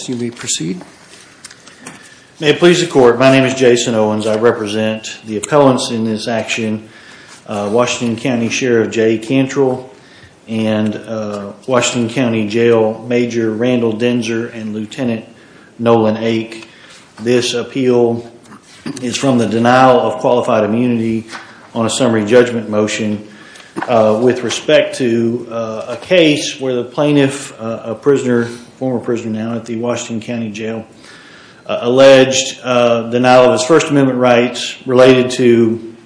May it please the court, my name is Jason Owens, I represent the appellants in this action, Washington County Sheriff Jay Cantrell and Washington County Jail Major Randall Denzer and Lieutenant Nolan Ake. This appeal is from the denial of qualified immunity on a summary judgment motion with respect to a case where the plaintiff, a prisoner, a former prisoner now at the Washington County Jail, alleged denial of his First Amendment rights related to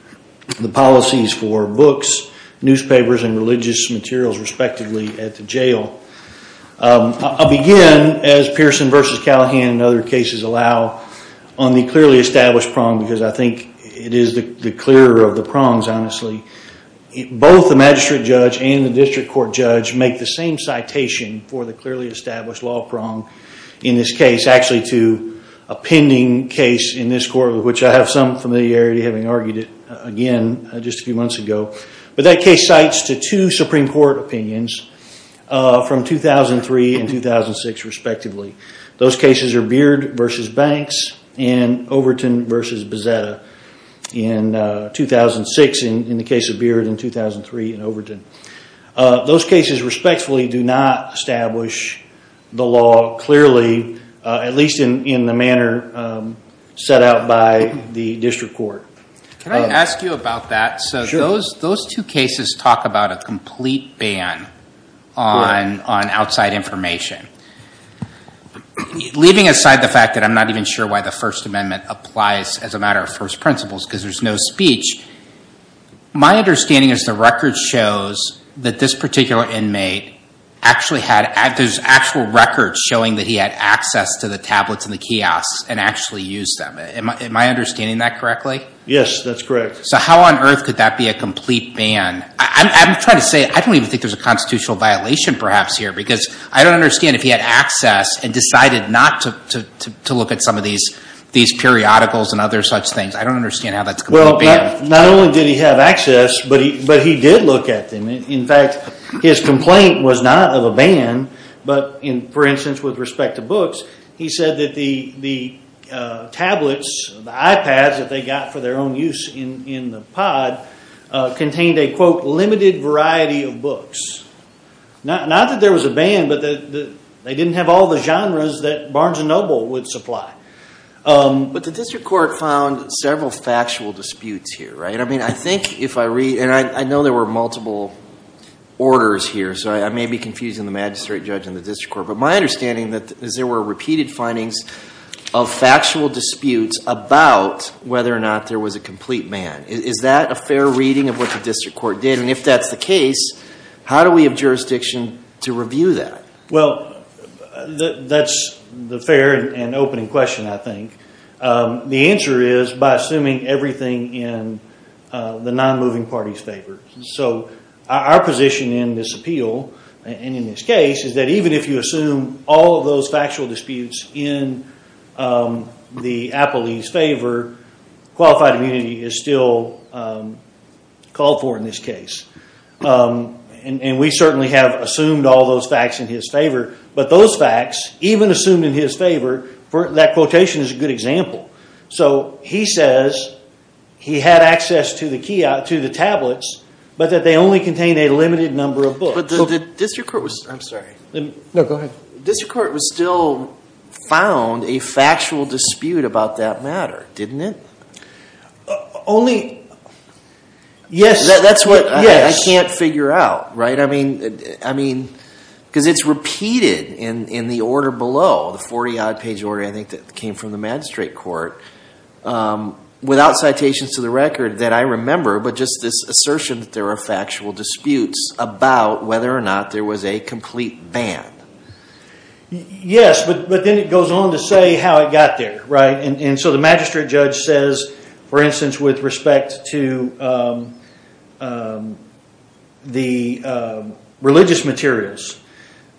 the policies for books, newspapers and religious materials respectively at the jail. I'll begin, as Pearson v. Callahan and other cases allow, on the clearly established prong because I think it is the clearer of the prongs, honestly. Both the magistrate judge and the district court judge make the same citation for the clearly established law prong in this case, actually to a pending case in this court of which I have some familiarity having argued it again just a few months ago. But that case cites to two Supreme Court opinions from 2003 and 2006 respectively. Those cases are Beard v. Banks and Overton v. Bazzetta. In 2006 in the case of Beard and in 2003 in Overton. Those cases respectfully do not establish the law clearly, at least in the manner set out by the district court. Can I ask you about that? Sure. So those two cases talk about a complete ban on outside information, leaving aside the fact that I'm not even sure why the First Amendment applies as a matter of first principles because there's no speech. My understanding is the record shows that this particular inmate actually had, there's actual records showing that he had access to the tablets in the kiosk and actually used them. Am I understanding that correctly? Yes, that's correct. So how on earth could that be a complete ban? I'm trying to say, I don't even think there's a constitutional violation perhaps here because I don't understand if he had access and decided not to look at some of these periodicals and other such things. I don't understand how that's a complete ban. Well, not only did he have access, but he did look at them. In fact, his complaint was not of a ban, but in, for instance, with respect to books, he said that the tablets, the iPads that they got for their own use in the pod contained a quote, limited variety of books. Not that there was a ban, but that they didn't have all the genres that Barnes & Noble would supply. But the district court found several factual disputes here, right? I mean, I think if I read, and I know there were multiple orders here, so I may be confusing the magistrate judge and the district court, but my understanding is that there were repeated findings of factual disputes about whether or not there was a complete ban. Is that a fair reading of what the district court did? And if that's the case, how do we have jurisdiction to review that? Well, that's the fair and opening question, I think. The answer is by assuming everything in the non-moving party's favor. So our position in this appeal, and in this case, is that even if you assume all of those factual disputes in the appellee's favor, qualified immunity is still called for in this case. And we certainly have assumed all those facts in his favor, but those facts, even assumed in his favor, that quotation is a good example. So he says he had access to the tablets, but that they only contained a limited number of books. But the district court was, I'm sorry. No, go ahead. The district court was still found a factual dispute about that matter, didn't it? Only, yes. That's what I can't figure out, right? Because it's repeated in the order below, the 40-odd page order, I think, that came from the magistrate court, without citations to the record that I remember, but just this assertion that there are factual disputes about whether or not there was a complete ban. Yes, but then it goes on to say how it got there, right? And so the magistrate judge says, for instance, with respect to the religious materials,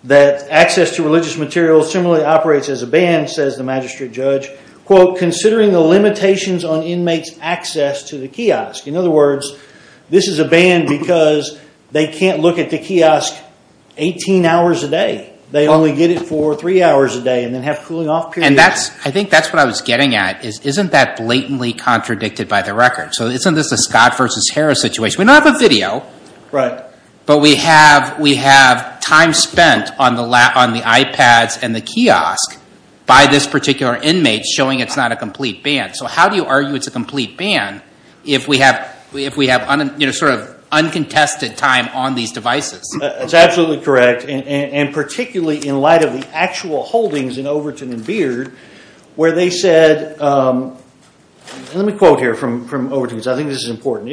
that access to religious materials similarly operates as a ban, says the magistrate judge, considering the limitations on inmates' access to the kiosk. In other words, this is a ban because they can't look at the kiosk 18 hours a day. They only get it for three hours a day and then have cooling off periods. I think that's what I was getting at, is isn't that blatantly contradicted by the record? So isn't this a Scott versus Harris situation? We don't have a video, but we have time spent on the iPads and the kiosk by this particular inmate showing it's not a complete ban. So how do you argue it's a complete ban if we have sort of uncontested time on these devices? That's absolutely correct. And particularly in light of the actual holdings in Overton and Beard, where they said, let me quote here from Overton, because I think this is important,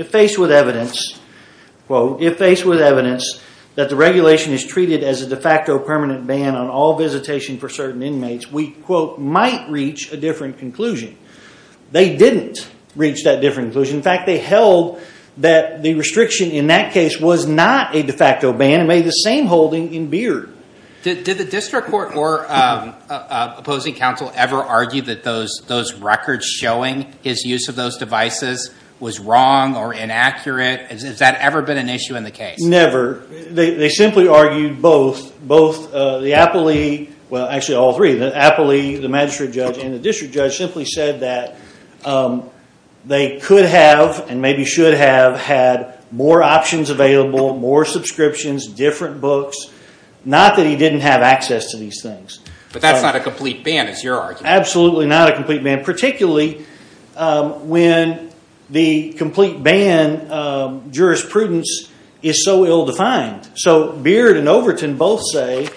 quote, if faced with evidence that the regulation is treated as a de facto permanent ban on all visitation for certain inmates, we, quote, might reach a different conclusion. They didn't reach that different conclusion. In fact, they held that the restriction in that case was not a de facto ban and made the same holding in Beard. Did the district court or opposing counsel ever argue that those records showing his use of those devices was wrong or inaccurate? Has that ever been an issue in the case? Never. They simply argued both. The appellee, well actually all three, the appellee, the magistrate judge, and the district judge simply said that they could have and maybe should have had more options available, more subscriptions, different books, not that he didn't have access to these things. But that's not a complete ban is your argument? Absolutely not a complete ban, particularly when the complete ban jurisprudence is so ill defined. So Beard and Overton both say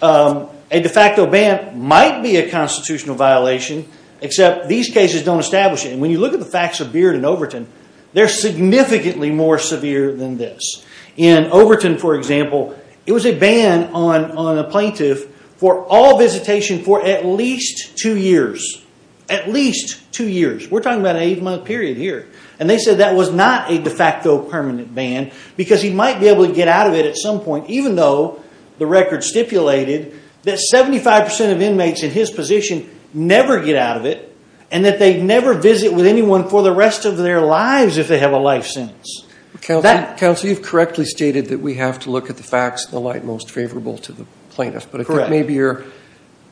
a de facto ban might be a constitutional violation, except these cases don't establish it. And when you look at the facts of Beard and Overton, they're significantly more severe than this. In Overton, for example, it was a ban on a plaintiff for all visitation for at least two years. At least two years. We're talking about an eight month period here. And they said that was not a de facto permanent ban because he might be able to get out of it at some point, even though the record stipulated that 75% of inmates in his position never get out of it and that they never visit with anyone for the rest of their lives if they have a life sentence. Counsel, you've correctly stated that we have to look at the facts in the light most favorable to the plaintiff. But I think maybe you're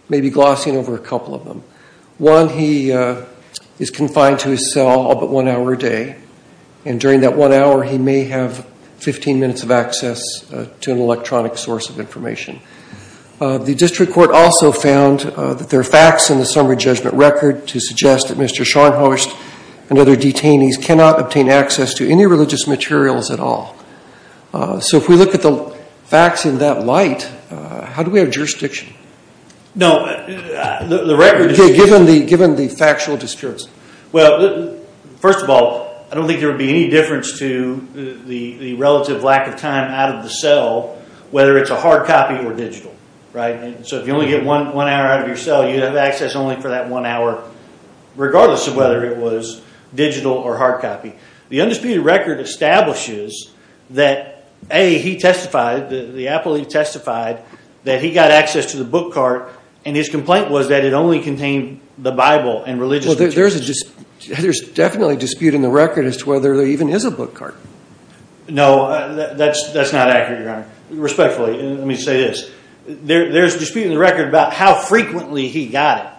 maybe glossing over a couple of them. One, he is confined to his cell all but one hour a day. And during that one hour, he may have 15 minutes of access to an electronic source of information. The district court also found that there are facts in the summary judgment record to suggest that Mr. Scharnhorst and other detainees cannot obtain access to any religious materials at all. So if we look at the facts in that light, how do we have jurisdiction? Given the factual discrepancy. Well, first of all, I don't think there would be any difference to the relative lack of time out of the cell, whether it's a hard copy or digital. So if you only get one hour out of your cell, you have access only for that one hour, regardless of whether it was digital or hard copy. The undisputed record establishes that, A, he testified, the appellee testified, that he got access to the book cart, and his complaint was that it only contained the Bible and religious materials. Well, there's definitely a dispute in the record as to whether there even is a book cart. No, that's not accurate, Your Honor. Respectfully, let me say this. There's a dispute in the record about how frequently he got it.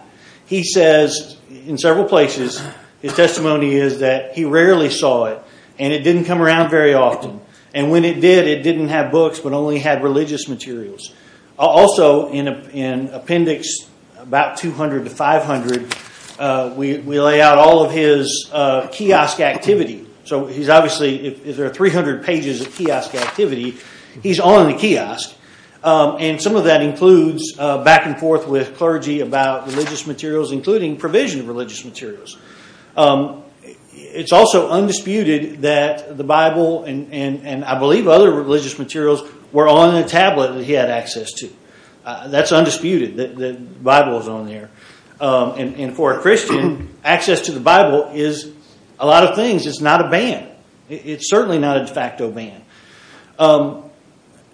He says in several places, his testimony is that he rarely saw it, and it didn't come around very often. And when it did, it didn't have books, but only had religious materials. Also in appendix about 200 to 500, we lay out all of his kiosk activity. So he's obviously, if there are 300 pages of kiosk activity, he's on the kiosk. And some of that includes back and forth with clergy about religious materials, including provision of religious materials. It's also undisputed that the Bible, and I believe other religious materials, were on the tablet that he had access to. That's undisputed, that the Bible was on there. And for a Christian, access to the Bible is a lot of things. It's not a ban. It's certainly not a de facto ban.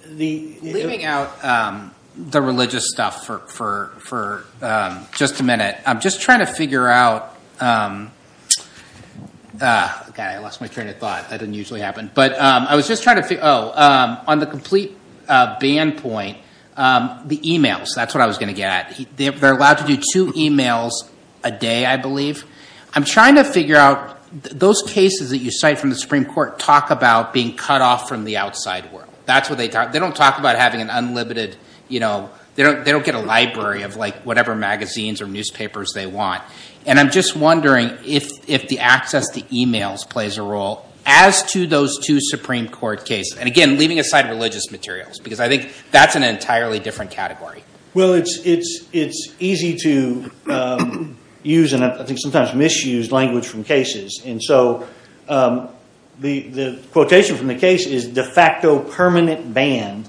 Leaving out the religious stuff for just a minute, I'm just trying to figure out, on the complete ban point, the emails. That's what I was going to get at. They're allowed to do two emails a day, I believe. I'm trying to figure out, those cases that you cite from the Supreme Court talk about being cut off from the outside world. That's what they talk about. They don't talk about having an unlimited, they don't get a library of whatever magazines or newspapers they want. And I'm just wondering if the access to emails plays a role as to those two Supreme Court cases. And again, leaving aside religious materials, because I think that's an entirely different category. Well, it's easy to use, and I think sometimes misused, language from cases. So the quotation from the case is, de facto permanent ban,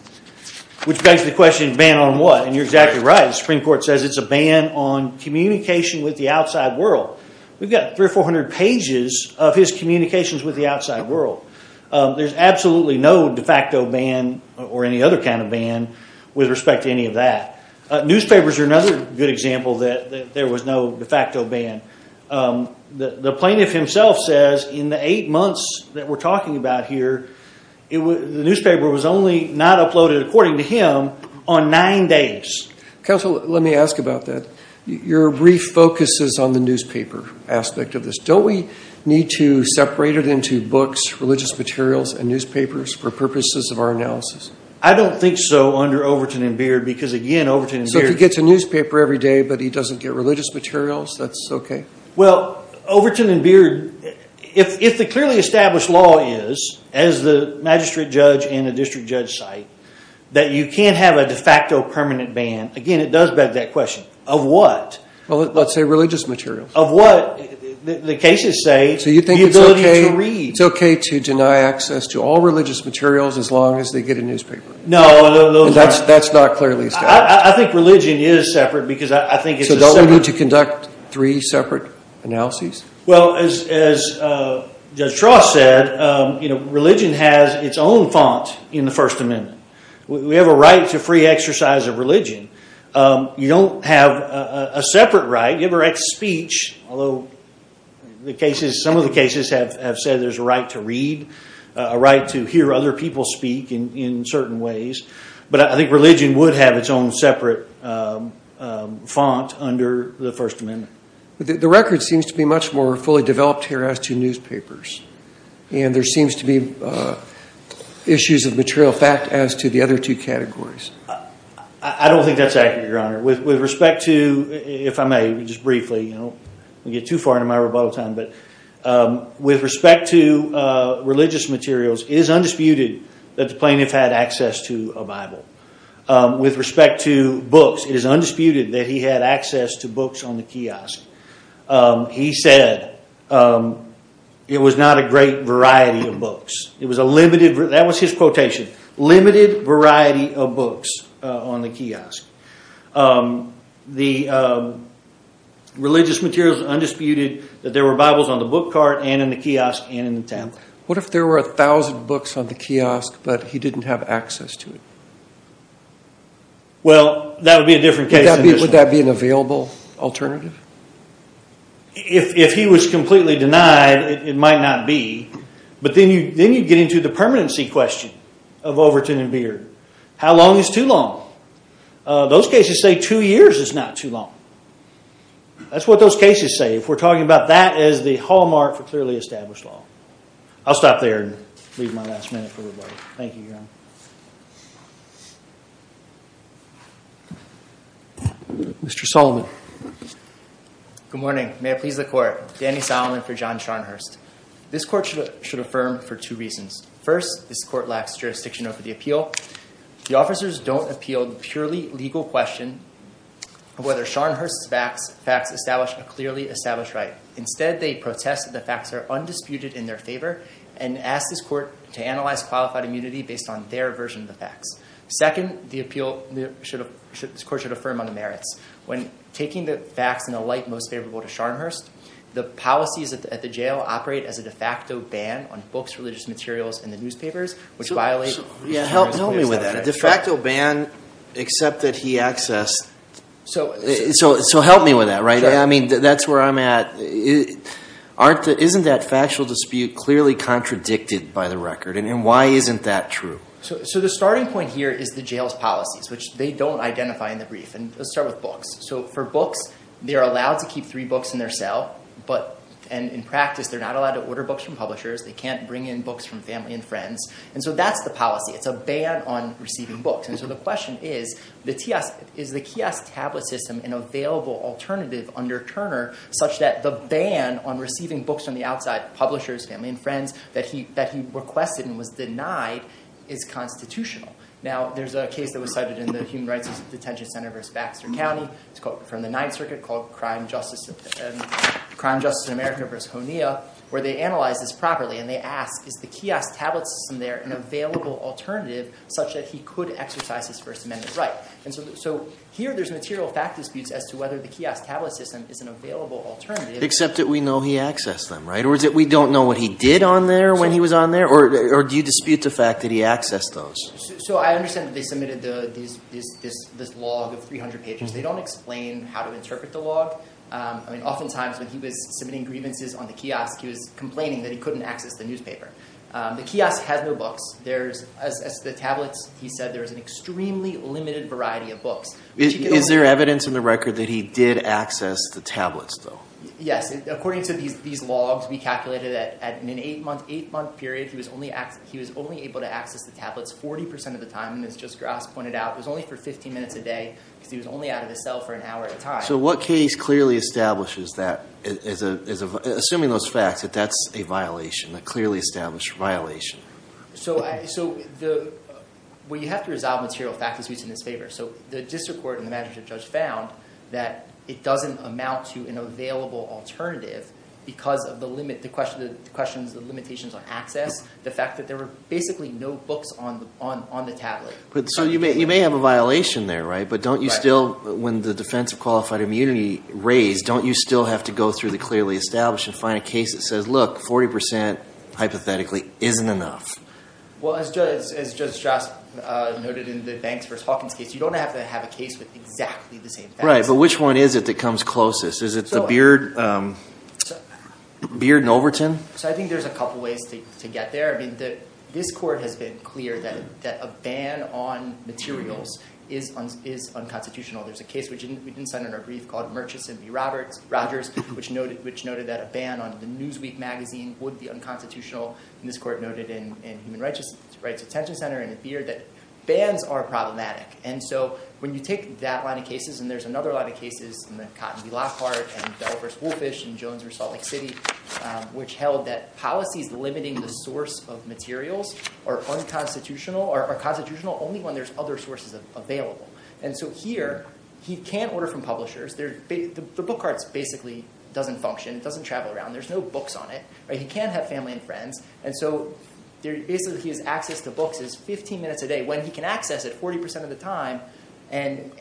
which begs the question, ban on what? And you're exactly right. The Supreme Court says it's a ban on communication with the outside world. We've got 300 or 400 pages of his communications with the outside world. There's absolutely no de facto ban or any other kind of ban with respect to any of that. Newspapers are another good example that there was no de facto ban. The plaintiff himself says, in the eight months that we're talking about here, the newspaper was only not uploaded, according to him, on nine days. Counsel, let me ask about that. Your brief focuses on the newspaper aspect of this. Don't we need to separate it into books, religious materials, and newspapers for purposes of our analysis? I don't think so under Overton and Beard, because again, Overton and Beard... Well, Overton and Beard, if the clearly established law is, as the magistrate judge and the district judge cite, that you can't have a de facto permanent ban, again, it does beg that question, of what? Well, let's say religious materials. Of what? The cases say, the ability to read. It's okay to deny access to all religious materials as long as they get a newspaper. That's not clearly established. I think religion is separate, because I think it's a separate... Are we going to conduct three separate analyses? Well, as Judge Trost said, religion has its own font in the First Amendment. We have a right to free exercise of religion. You don't have a separate right. You have a right to speech, although some of the cases have said there's a right to read, a right to hear other people speak in certain ways. But I think religion would have its own separate font under the First Amendment. The record seems to be much more fully developed here as to newspapers, and there seems to be issues of material fact as to the other two categories. I don't think that's accurate, Your Honor. With respect to... If I may, just briefly, I don't want to get too far into my rebuttal time, but with respect to religious materials, it is undisputed that the plaintiff had access to a Bible. With respect to books, it is undisputed that he had access to books on the kiosk. He said it was not a great variety of books. It was a limited... That was his quotation, limited variety of books on the kiosk. The religious materials are undisputed that there were Bibles on the book cart and in the kiosk and in the tablet. What if there were a thousand books on the kiosk, but he didn't have access to it? Well, that would be a different case. Would that be an available alternative? If he was completely denied, it might not be. But then you get into the permanency question of Overton and Beard. How long is too long? Those cases say two years is not too long. That's what those cases say. If we're talking about that as the hallmark for clearly established law. I'll stop there and leave my last minute for everybody. Thank you, Your Honor. Mr. Solomon. Good morning. May it please the Court. Danny Solomon for John Scharnhurst. This Court should affirm for two reasons. First, this Court lacks jurisdiction over the appeal. The officers don't appeal the purely legal question of whether Scharnhurst's facts establish a clearly established right. Instead, they protest that the facts are undisputed in their favor and ask this Court to analyze qualified immunity based on their version of the facts. Second, this Court should affirm on the merits. When taking the facts in a light most favorable to Scharnhurst, the policies at the jail operate as a de facto ban on books, religious materials, and the newspapers, which violate the terms and conditions of the statute. Help me with that. A de facto ban, except that he accessed. So help me with that, right? I mean, that's where I'm at. Isn't that factual dispute clearly contradicted by the record, and why isn't that true? So the starting point here is the jail's policies, which they don't identify in the brief. And let's start with books. So for books, they are allowed to keep three books in their cell, but in practice, they're not allowed to order books from publishers. They can't bring in books from family and friends. And so that's the policy. It's a ban on receiving books. And so the question is, is the kiosk tablet system an available alternative under Turner such that the ban on receiving books from the outside, publishers, family, and friends, that he requested and was denied, is constitutional? Now there's a case that was cited in the Human Rights Detention Center v. Baxter County. It's from the Ninth Circuit called Crime, Justice, and America v. Honea, where they analyzed this properly. And they asked, is the kiosk tablet system there an available alternative such that he could exercise his First Amendment right? So here there's material fact disputes as to whether the kiosk tablet system is an available alternative. Except that we know he accessed them, right? Or is it we don't know what he did on there when he was on there? Or do you dispute the fact that he accessed those? So I understand that they submitted this log of 300 pages. They don't explain how to interpret the log. I mean, oftentimes when he was submitting grievances on the kiosk, he was complaining that he couldn't access the newspaper. The kiosk has no books. As the tablets, he said, there is an extremely limited variety of books. Is there evidence in the record that he did access the tablets, though? Yes. According to these logs, we calculated that in an eight-month period, he was only able to access the tablets 40% of the time, as just Grass pointed out. It was only for 15 minutes a day because he was only out of the cell for an hour at a time. So what case clearly establishes that, assuming those facts, that that's a violation, a clearly established violation? So, well, you have to resolve material fact disputes in his favor. So the district court and the management judge found that it doesn't amount to an available alternative because of the limitations on access, the fact that there were basically no books on the tablet. So you may have a violation there, right? But don't you still, when the defense of qualified immunity raised, don't you still have to go through the clearly established and find a case that says, look, 40% hypothetically isn't enough? Well, as Judge Grass noted in the Banks v. Hawkins case, you don't have to have a case with exactly the same facts. Right. But which one is it that comes closest? Is it the Beard and Overton? So I think there's a couple ways to get there. This court has been clear that a ban on materials is unconstitutional. There's a case which we didn't send in our brief called Murchison v. Rogers, which noted that a ban on the Newsweek magazine would be unconstitutional. And this court noted in Human Rights Attention Center and the Beard that bans are problematic. And so when you take that line of cases, and there's another line of cases in the Cotton v. Lockhart and Delvers v. Wolffish and Jones v. Salt Lake City, which held that policies limiting the source of materials are unconstitutional or constitutional only when there's other sources available. And so here, he can't order from publishers. The book cart basically doesn't function, it doesn't travel around, there's no books on it. He can't have family and friends. And so basically his access to books is 15 minutes a day when he can access it 40% of the time and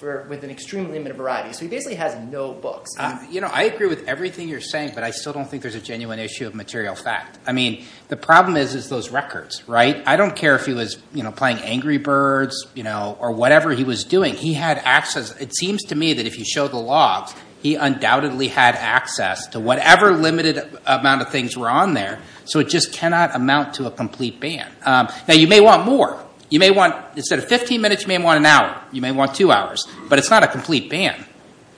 with an extreme limit of variety. So he basically has no books. You know, I agree with everything you're saying, but I still don't think there's a genuine issue of material fact. I mean, the problem is those records, right? I don't care if he was, you know, playing Angry Birds, you know, or whatever he was doing. He had access. It seems to me that if you show the logs, he undoubtedly had access to whatever limited amount of things were on there. So it just cannot amount to a complete ban. Now, you may want more. You may want, instead of 15 minutes, you may want an hour. You may want two hours. But it's not a complete ban.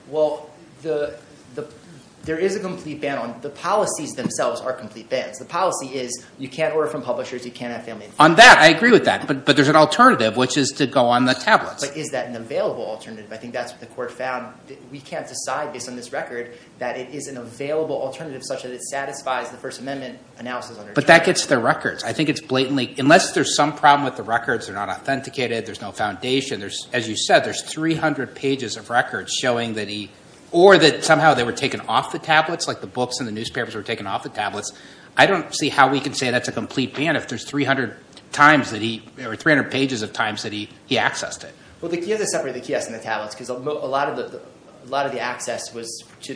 Well, there is a complete ban on, the policies themselves are complete bans. The policy is you can't order from publishers, you can't have family and friends. On that, I agree with that, but there's an alternative, which is to go on the tablets. But is that an available alternative? I think that's what the court found. We can't decide based on this record that it is an available alternative such that it satisfies the First Amendment analysis. But that gets their records. I think it's blatantly, unless there's some problem with the records, they're not authenticated, there's no foundation. There's, as you said, there's 300 pages of records showing that he, or that somehow they were taken off the tablets, like the books and the newspapers were taken off the tablets. I don't see how we can say that's a complete ban if there's 300 times that he, or 300 pages of times that he accessed it. Well, the kiosks separate the kiosks and the tablets, because a lot of the access was to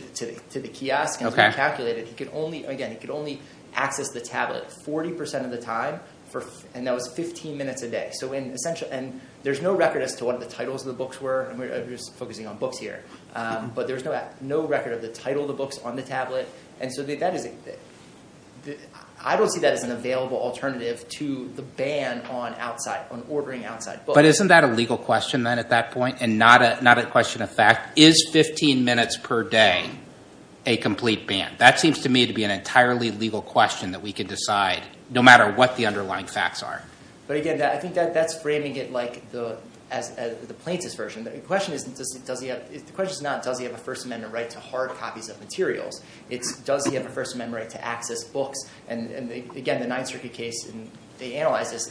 the kiosk and calculated. He could only, again, he could only access the tablet 40% of the time, and that was 15 minutes a day. So in essential, and there's no record as to what the titles of the books were, and we're just focusing on books here. But there's no record of the title of the books on the tablet. And so that is, I don't see that as an available alternative to the ban on outside, on ordering outside books. But isn't that a legal question, then, at that point, and not a question of fact? Is 15 minutes per day a complete ban? That seems to me to be an entirely legal question that we can decide, no matter what the underlying facts are. But again, I think that's framing it like the plaintiff's version. The question is not, does he have a First Amendment right to hard copies of materials? It's, does he have a First Amendment right to access books? And again, the Ninth Circuit case, and they analyzed this,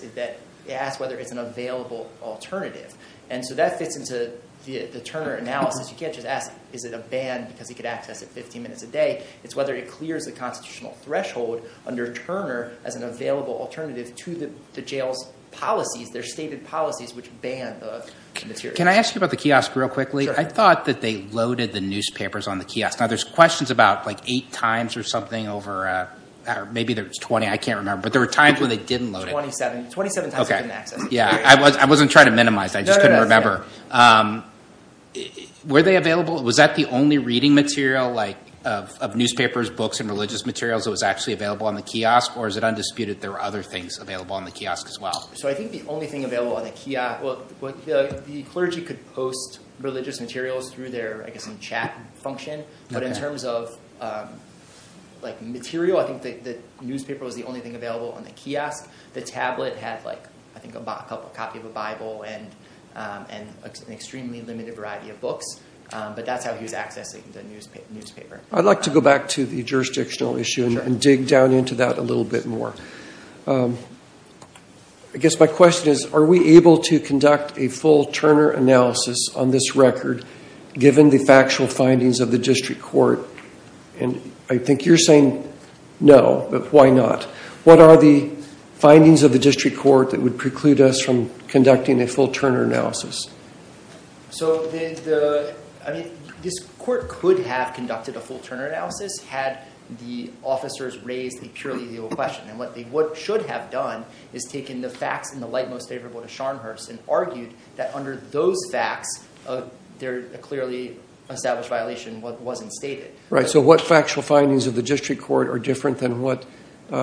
they asked whether it's an available alternative. And so that fits into the Turner analysis. You can't just ask, is it a ban because he could access it 15 minutes a day? It's whether it clears the constitutional threshold under Turner as an available alternative to the jail's policies, their stated policies, which ban the materials. Can I ask you about the kiosk real quickly? I thought that they loaded the newspapers on the kiosk. Now, there's questions about eight times or something over, or maybe there was 20, I can't remember. But there were times when they didn't load it. 27. 27 times they didn't access it. Yeah. I wasn't trying to minimize. I just couldn't remember. Were they available? Was that the only reading material of newspapers, books, and religious materials that was actually available on the kiosk? Or is it undisputed there were other things available on the kiosk as well? So I think the only thing available on the kiosk, well, the clergy could post religious materials through their, I guess, some chat function. But in terms of material, I think the newspaper was the only thing available on the kiosk. The tablet had, I think, a copy of a Bible and an extremely limited variety of books. But that's how he was accessing the newspaper. I'd like to go back to the jurisdictional issue and dig down into that a little bit more. I guess my question is, are we able to conduct a full Turner analysis on this record given the factual findings of the district court? And I think you're saying no, but why not? What are the findings of the district court that would preclude us from conducting a full Turner analysis? So this court could have conducted a full Turner analysis had the officers raised a purely legal question. And what they should have done is taken the facts in the light most favorable to Scharnhurst and argued that under those facts, a clearly established violation wasn't stated. Right. So what factual findings of the district court are different than what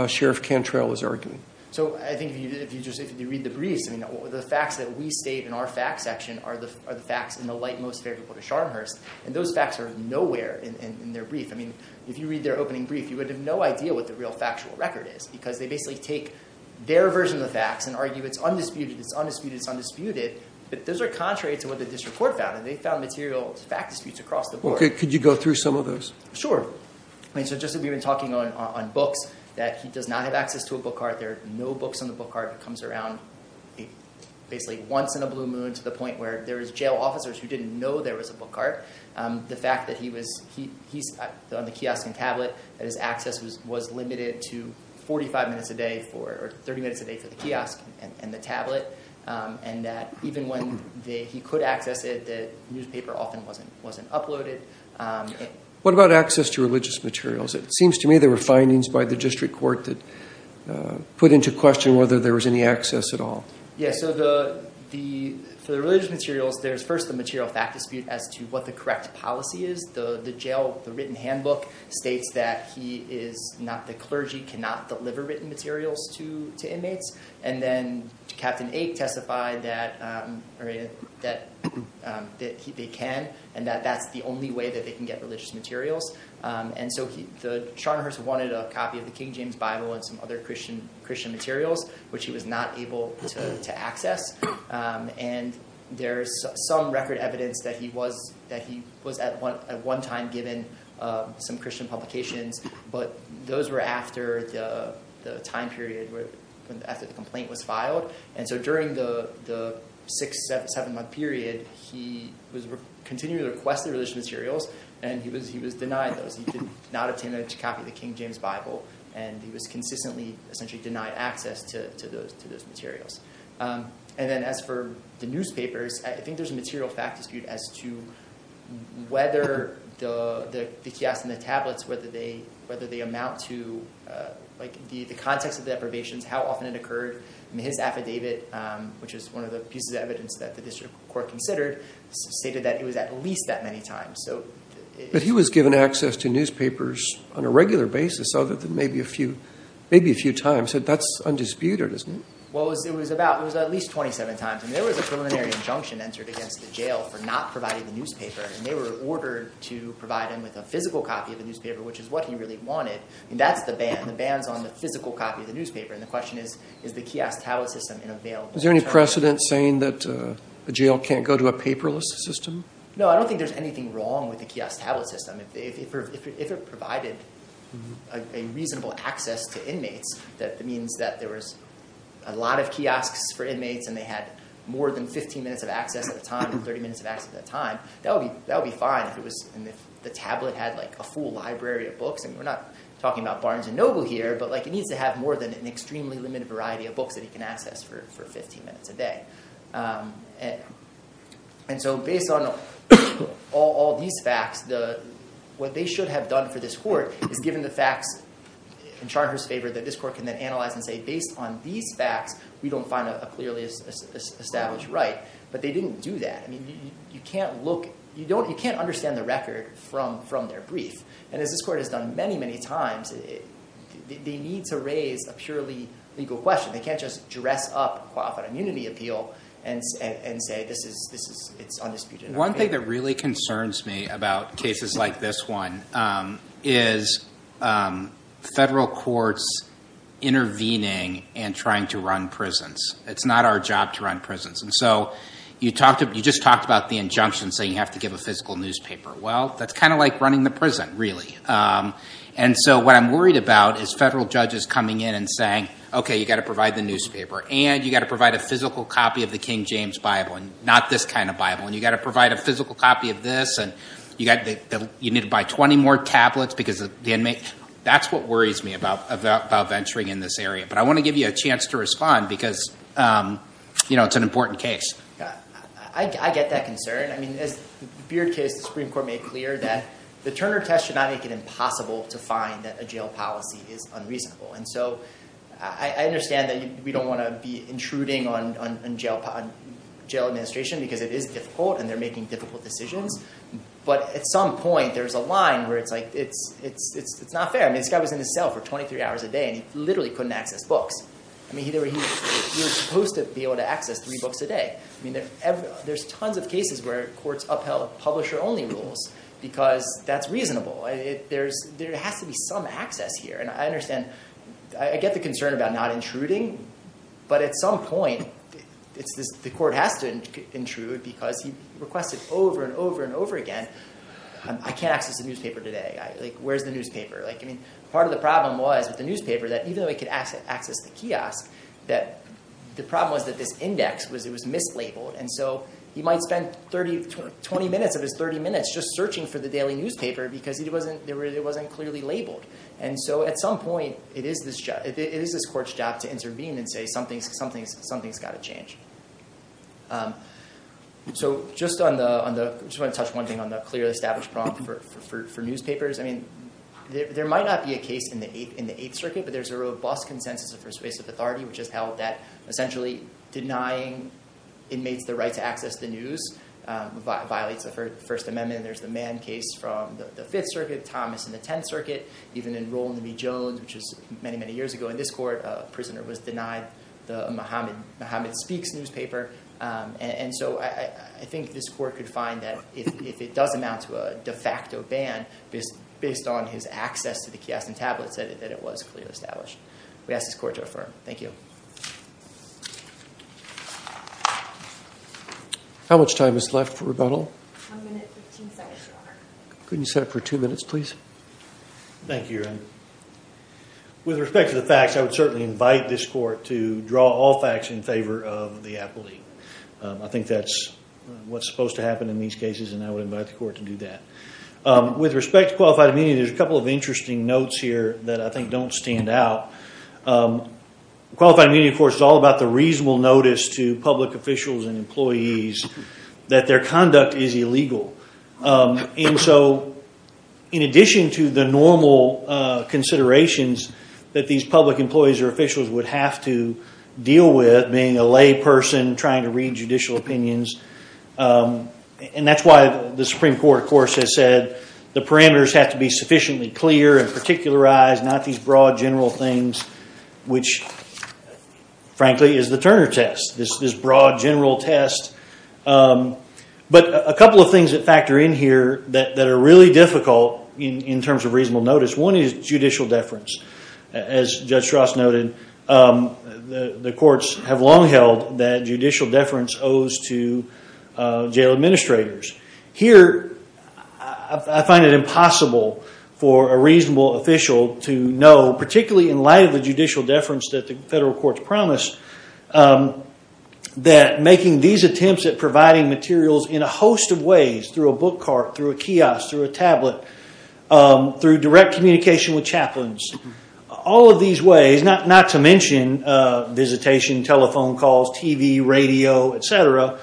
Sheriff Cantrell is arguing? So I think if you read the briefs, the facts that we state in our facts section are the facts in the light most favorable to Scharnhurst. And those facts are nowhere in their brief. If you read their opening brief, you would have no idea what the real factual record is because they basically take their version of the facts and argue it's undisputed, it's undisputed, it's undisputed. But those are contrary to what the district court found and they found material fact disputes across the board. Okay. Could you go through some of those? Sure. I mean, so just as we've been talking on books, that he does not have access to a book cart, there are no books on the book cart, it comes around basically once in a blue moon to the point where there was jail officers who didn't know there was a book cart. The fact that he's on the kiosk and tablet, that his access was limited to 45 minutes a day for, or 30 minutes a day for the kiosk and the tablet, and that even when he could access it, the newspaper often wasn't uploaded. What about access to religious materials? It seems to me there were findings by the district court that put into question whether there was any access at all. Yeah. Okay. So for the religious materials, there's first the material fact dispute as to what the correct policy is. The jail, the written handbook states that he is not, the clergy cannot deliver written materials to inmates. And then Captain Ake testified that they can and that that's the only way that they can get religious materials. And so Sharnhurst wanted a copy of the King James Bible and some other Christian materials, which he was not able to access. And there's some record evidence that he was at one time given some Christian publications, but those were after the time period where, after the complaint was filed. And so during the six, seven month period, he was continuing to request the religious materials and he was denied those. He did not obtain a copy of the King James Bible and he was consistently essentially denied access to those materials. And then as for the newspapers, I think there's a material fact dispute as to whether the kiosks and the tablets, whether they amount to, like the context of the deprivations, how often it occurred. I mean, his affidavit, which is one of the pieces of evidence that the district court considered, stated that it was at least that many times. But he was given access to newspapers on a regular basis other than maybe a few, maybe That's undisputed, isn't it? Well, it was about, it was at least 27 times. And there was a preliminary injunction entered against the jail for not providing the newspaper. And they were ordered to provide him with a physical copy of the newspaper, which is what he really wanted. And that's the ban. The ban's on the physical copy of the newspaper. And the question is, is the kiosk tablet system in available? Is there any precedent saying that a jail can't go to a paperless system? No, I don't think there's anything wrong with the kiosk tablet system. If it provided a reasonable access to inmates, that means that there was a lot of kiosks for inmates and they had more than 15 minutes of access at a time, 30 minutes of access at a time, that would be fine. And if the tablet had a full library of books, and we're not talking about Barnes & Noble here, but it needs to have more than an extremely limited variety of books that he can access for 15 minutes a day. And so based on all these facts, what they should have done for this court is given the facts in Charter's favor that this court can then analyze and say, based on these facts, we don't find a clearly established right. But they didn't do that. I mean, you can't look, you can't understand the record from their brief. And as this court has done many, many times, they need to raise a purely legal question. They can't just dress up off an immunity appeal and say it's undisputed. One thing that really concerns me about cases like this one is federal courts intervening and trying to run prisons. It's not our job to run prisons. And so you just talked about the injunction saying you have to give a physical newspaper. Well, that's kind of like running the prison, really. And so what I'm worried about is federal judges coming in and saying, OK, you've got to provide the newspaper, and you've got to provide a physical copy of the King James Bible, and not this kind of Bible. And you've got to provide a physical copy of this, and you need to buy 20 more tablets because of the inmate. That's what worries me about venturing in this area. But I want to give you a chance to respond because it's an important case. I get that concern. I mean, as the Beard case, the Supreme Court made clear that the Turner test should not make it impossible to find that a jail policy is unreasonable. And so I understand that we don't want to be intruding on jail administration because it is difficult, and they're making difficult decisions. But at some point, there's a line where it's like, it's not fair. I mean, this guy was in a cell for 23 hours a day, and he literally couldn't access books. I mean, he was supposed to be able to access three books a day. There's tons of cases where courts upheld publisher-only rules because that's reasonable. There has to be some access here. And I understand, I get the concern about not intruding, but at some point, the court has to intrude because he requested over and over and over again, I can't access the newspaper today. Like, where's the newspaper? I mean, part of the problem was with the newspaper that even though he could access the kiosk, that the problem was that this index was mislabeled. And so he might spend 20 minutes of his 30 minutes just searching for the daily newspaper because it wasn't clearly labeled. And so at some point, it is this court's job to intervene and say, something's got to change. So just on the, I just want to touch one thing on the clearly established problem for newspapers. I mean, there might not be a case in the Eighth Circuit, but there's a robust consensus of persuasive authority, which has held that essentially denying inmates the right to access the news violates the First Amendment. And there's the Mann case from the Fifth Circuit, Thomas in the Tenth Circuit, even in Rolland v. Jones, which was many, many years ago in this court, a prisoner was denied the Muhammad Speaks newspaper. And so I think this court could find that if it does amount to a de facto ban based on his access to the kiosk and tablets, that it was clearly established. We ask this court to affirm. Thank you. How much time is left for rebuttal? One minute and 15 seconds, Your Honor. Couldn't you set up for two minutes, please? Thank you, Your Honor. With respect to the facts, I would certainly invite this court to draw all facts in favor of the appellee. I think that's what's supposed to happen in these cases, and I would invite the court to do that. With respect to qualified immunity, there's a couple of interesting notes here that I think don't stand out. Qualified immunity, of course, is all about the reasonable notice to public officials and employees that their conduct is illegal. And so in addition to the normal considerations that these public employees or officials would have to deal with, being a layperson, trying to read judicial opinions, and that's why the Supreme Court, of course, has said the parameters have to be sufficiently clear and particularized, not these broad, general things, which, frankly, is the Turner test, this broad, general test. But a couple of things that factor in here that are really difficult in terms of reasonable notice. One is judicial deference. As Judge Strauss noted, the courts have long held that judicial deference owes to jail administrators. Here, I find it impossible for a reasonable official to know, particularly in light of the judicial deference that the federal courts promised, that making these attempts at providing materials in a host of ways, through a book cart, through a kiosk, through a tablet, through direct communication with chaplains, all of these ways, not to mention visitation, telephone video, et cetera,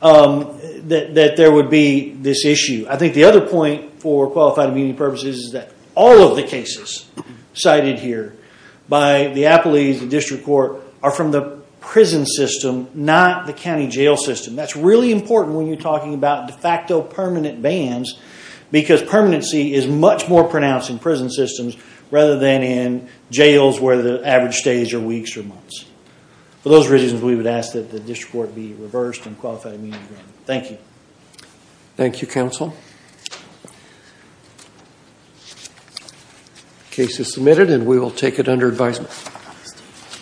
that there would be this issue. I think the other point, for qualified immunity purposes, is that all of the cases cited here by the appellees, the district court, are from the prison system, not the county jail system. That's really important when you're talking about de facto permanent bans because permanency is much more pronounced in prison systems rather than in jails where the average stays are weeks or months. For those reasons, we would ask that the district court be reversed in qualified immunity. Thank you. Thank you, counsel. The case is submitted and we will take it under advisement.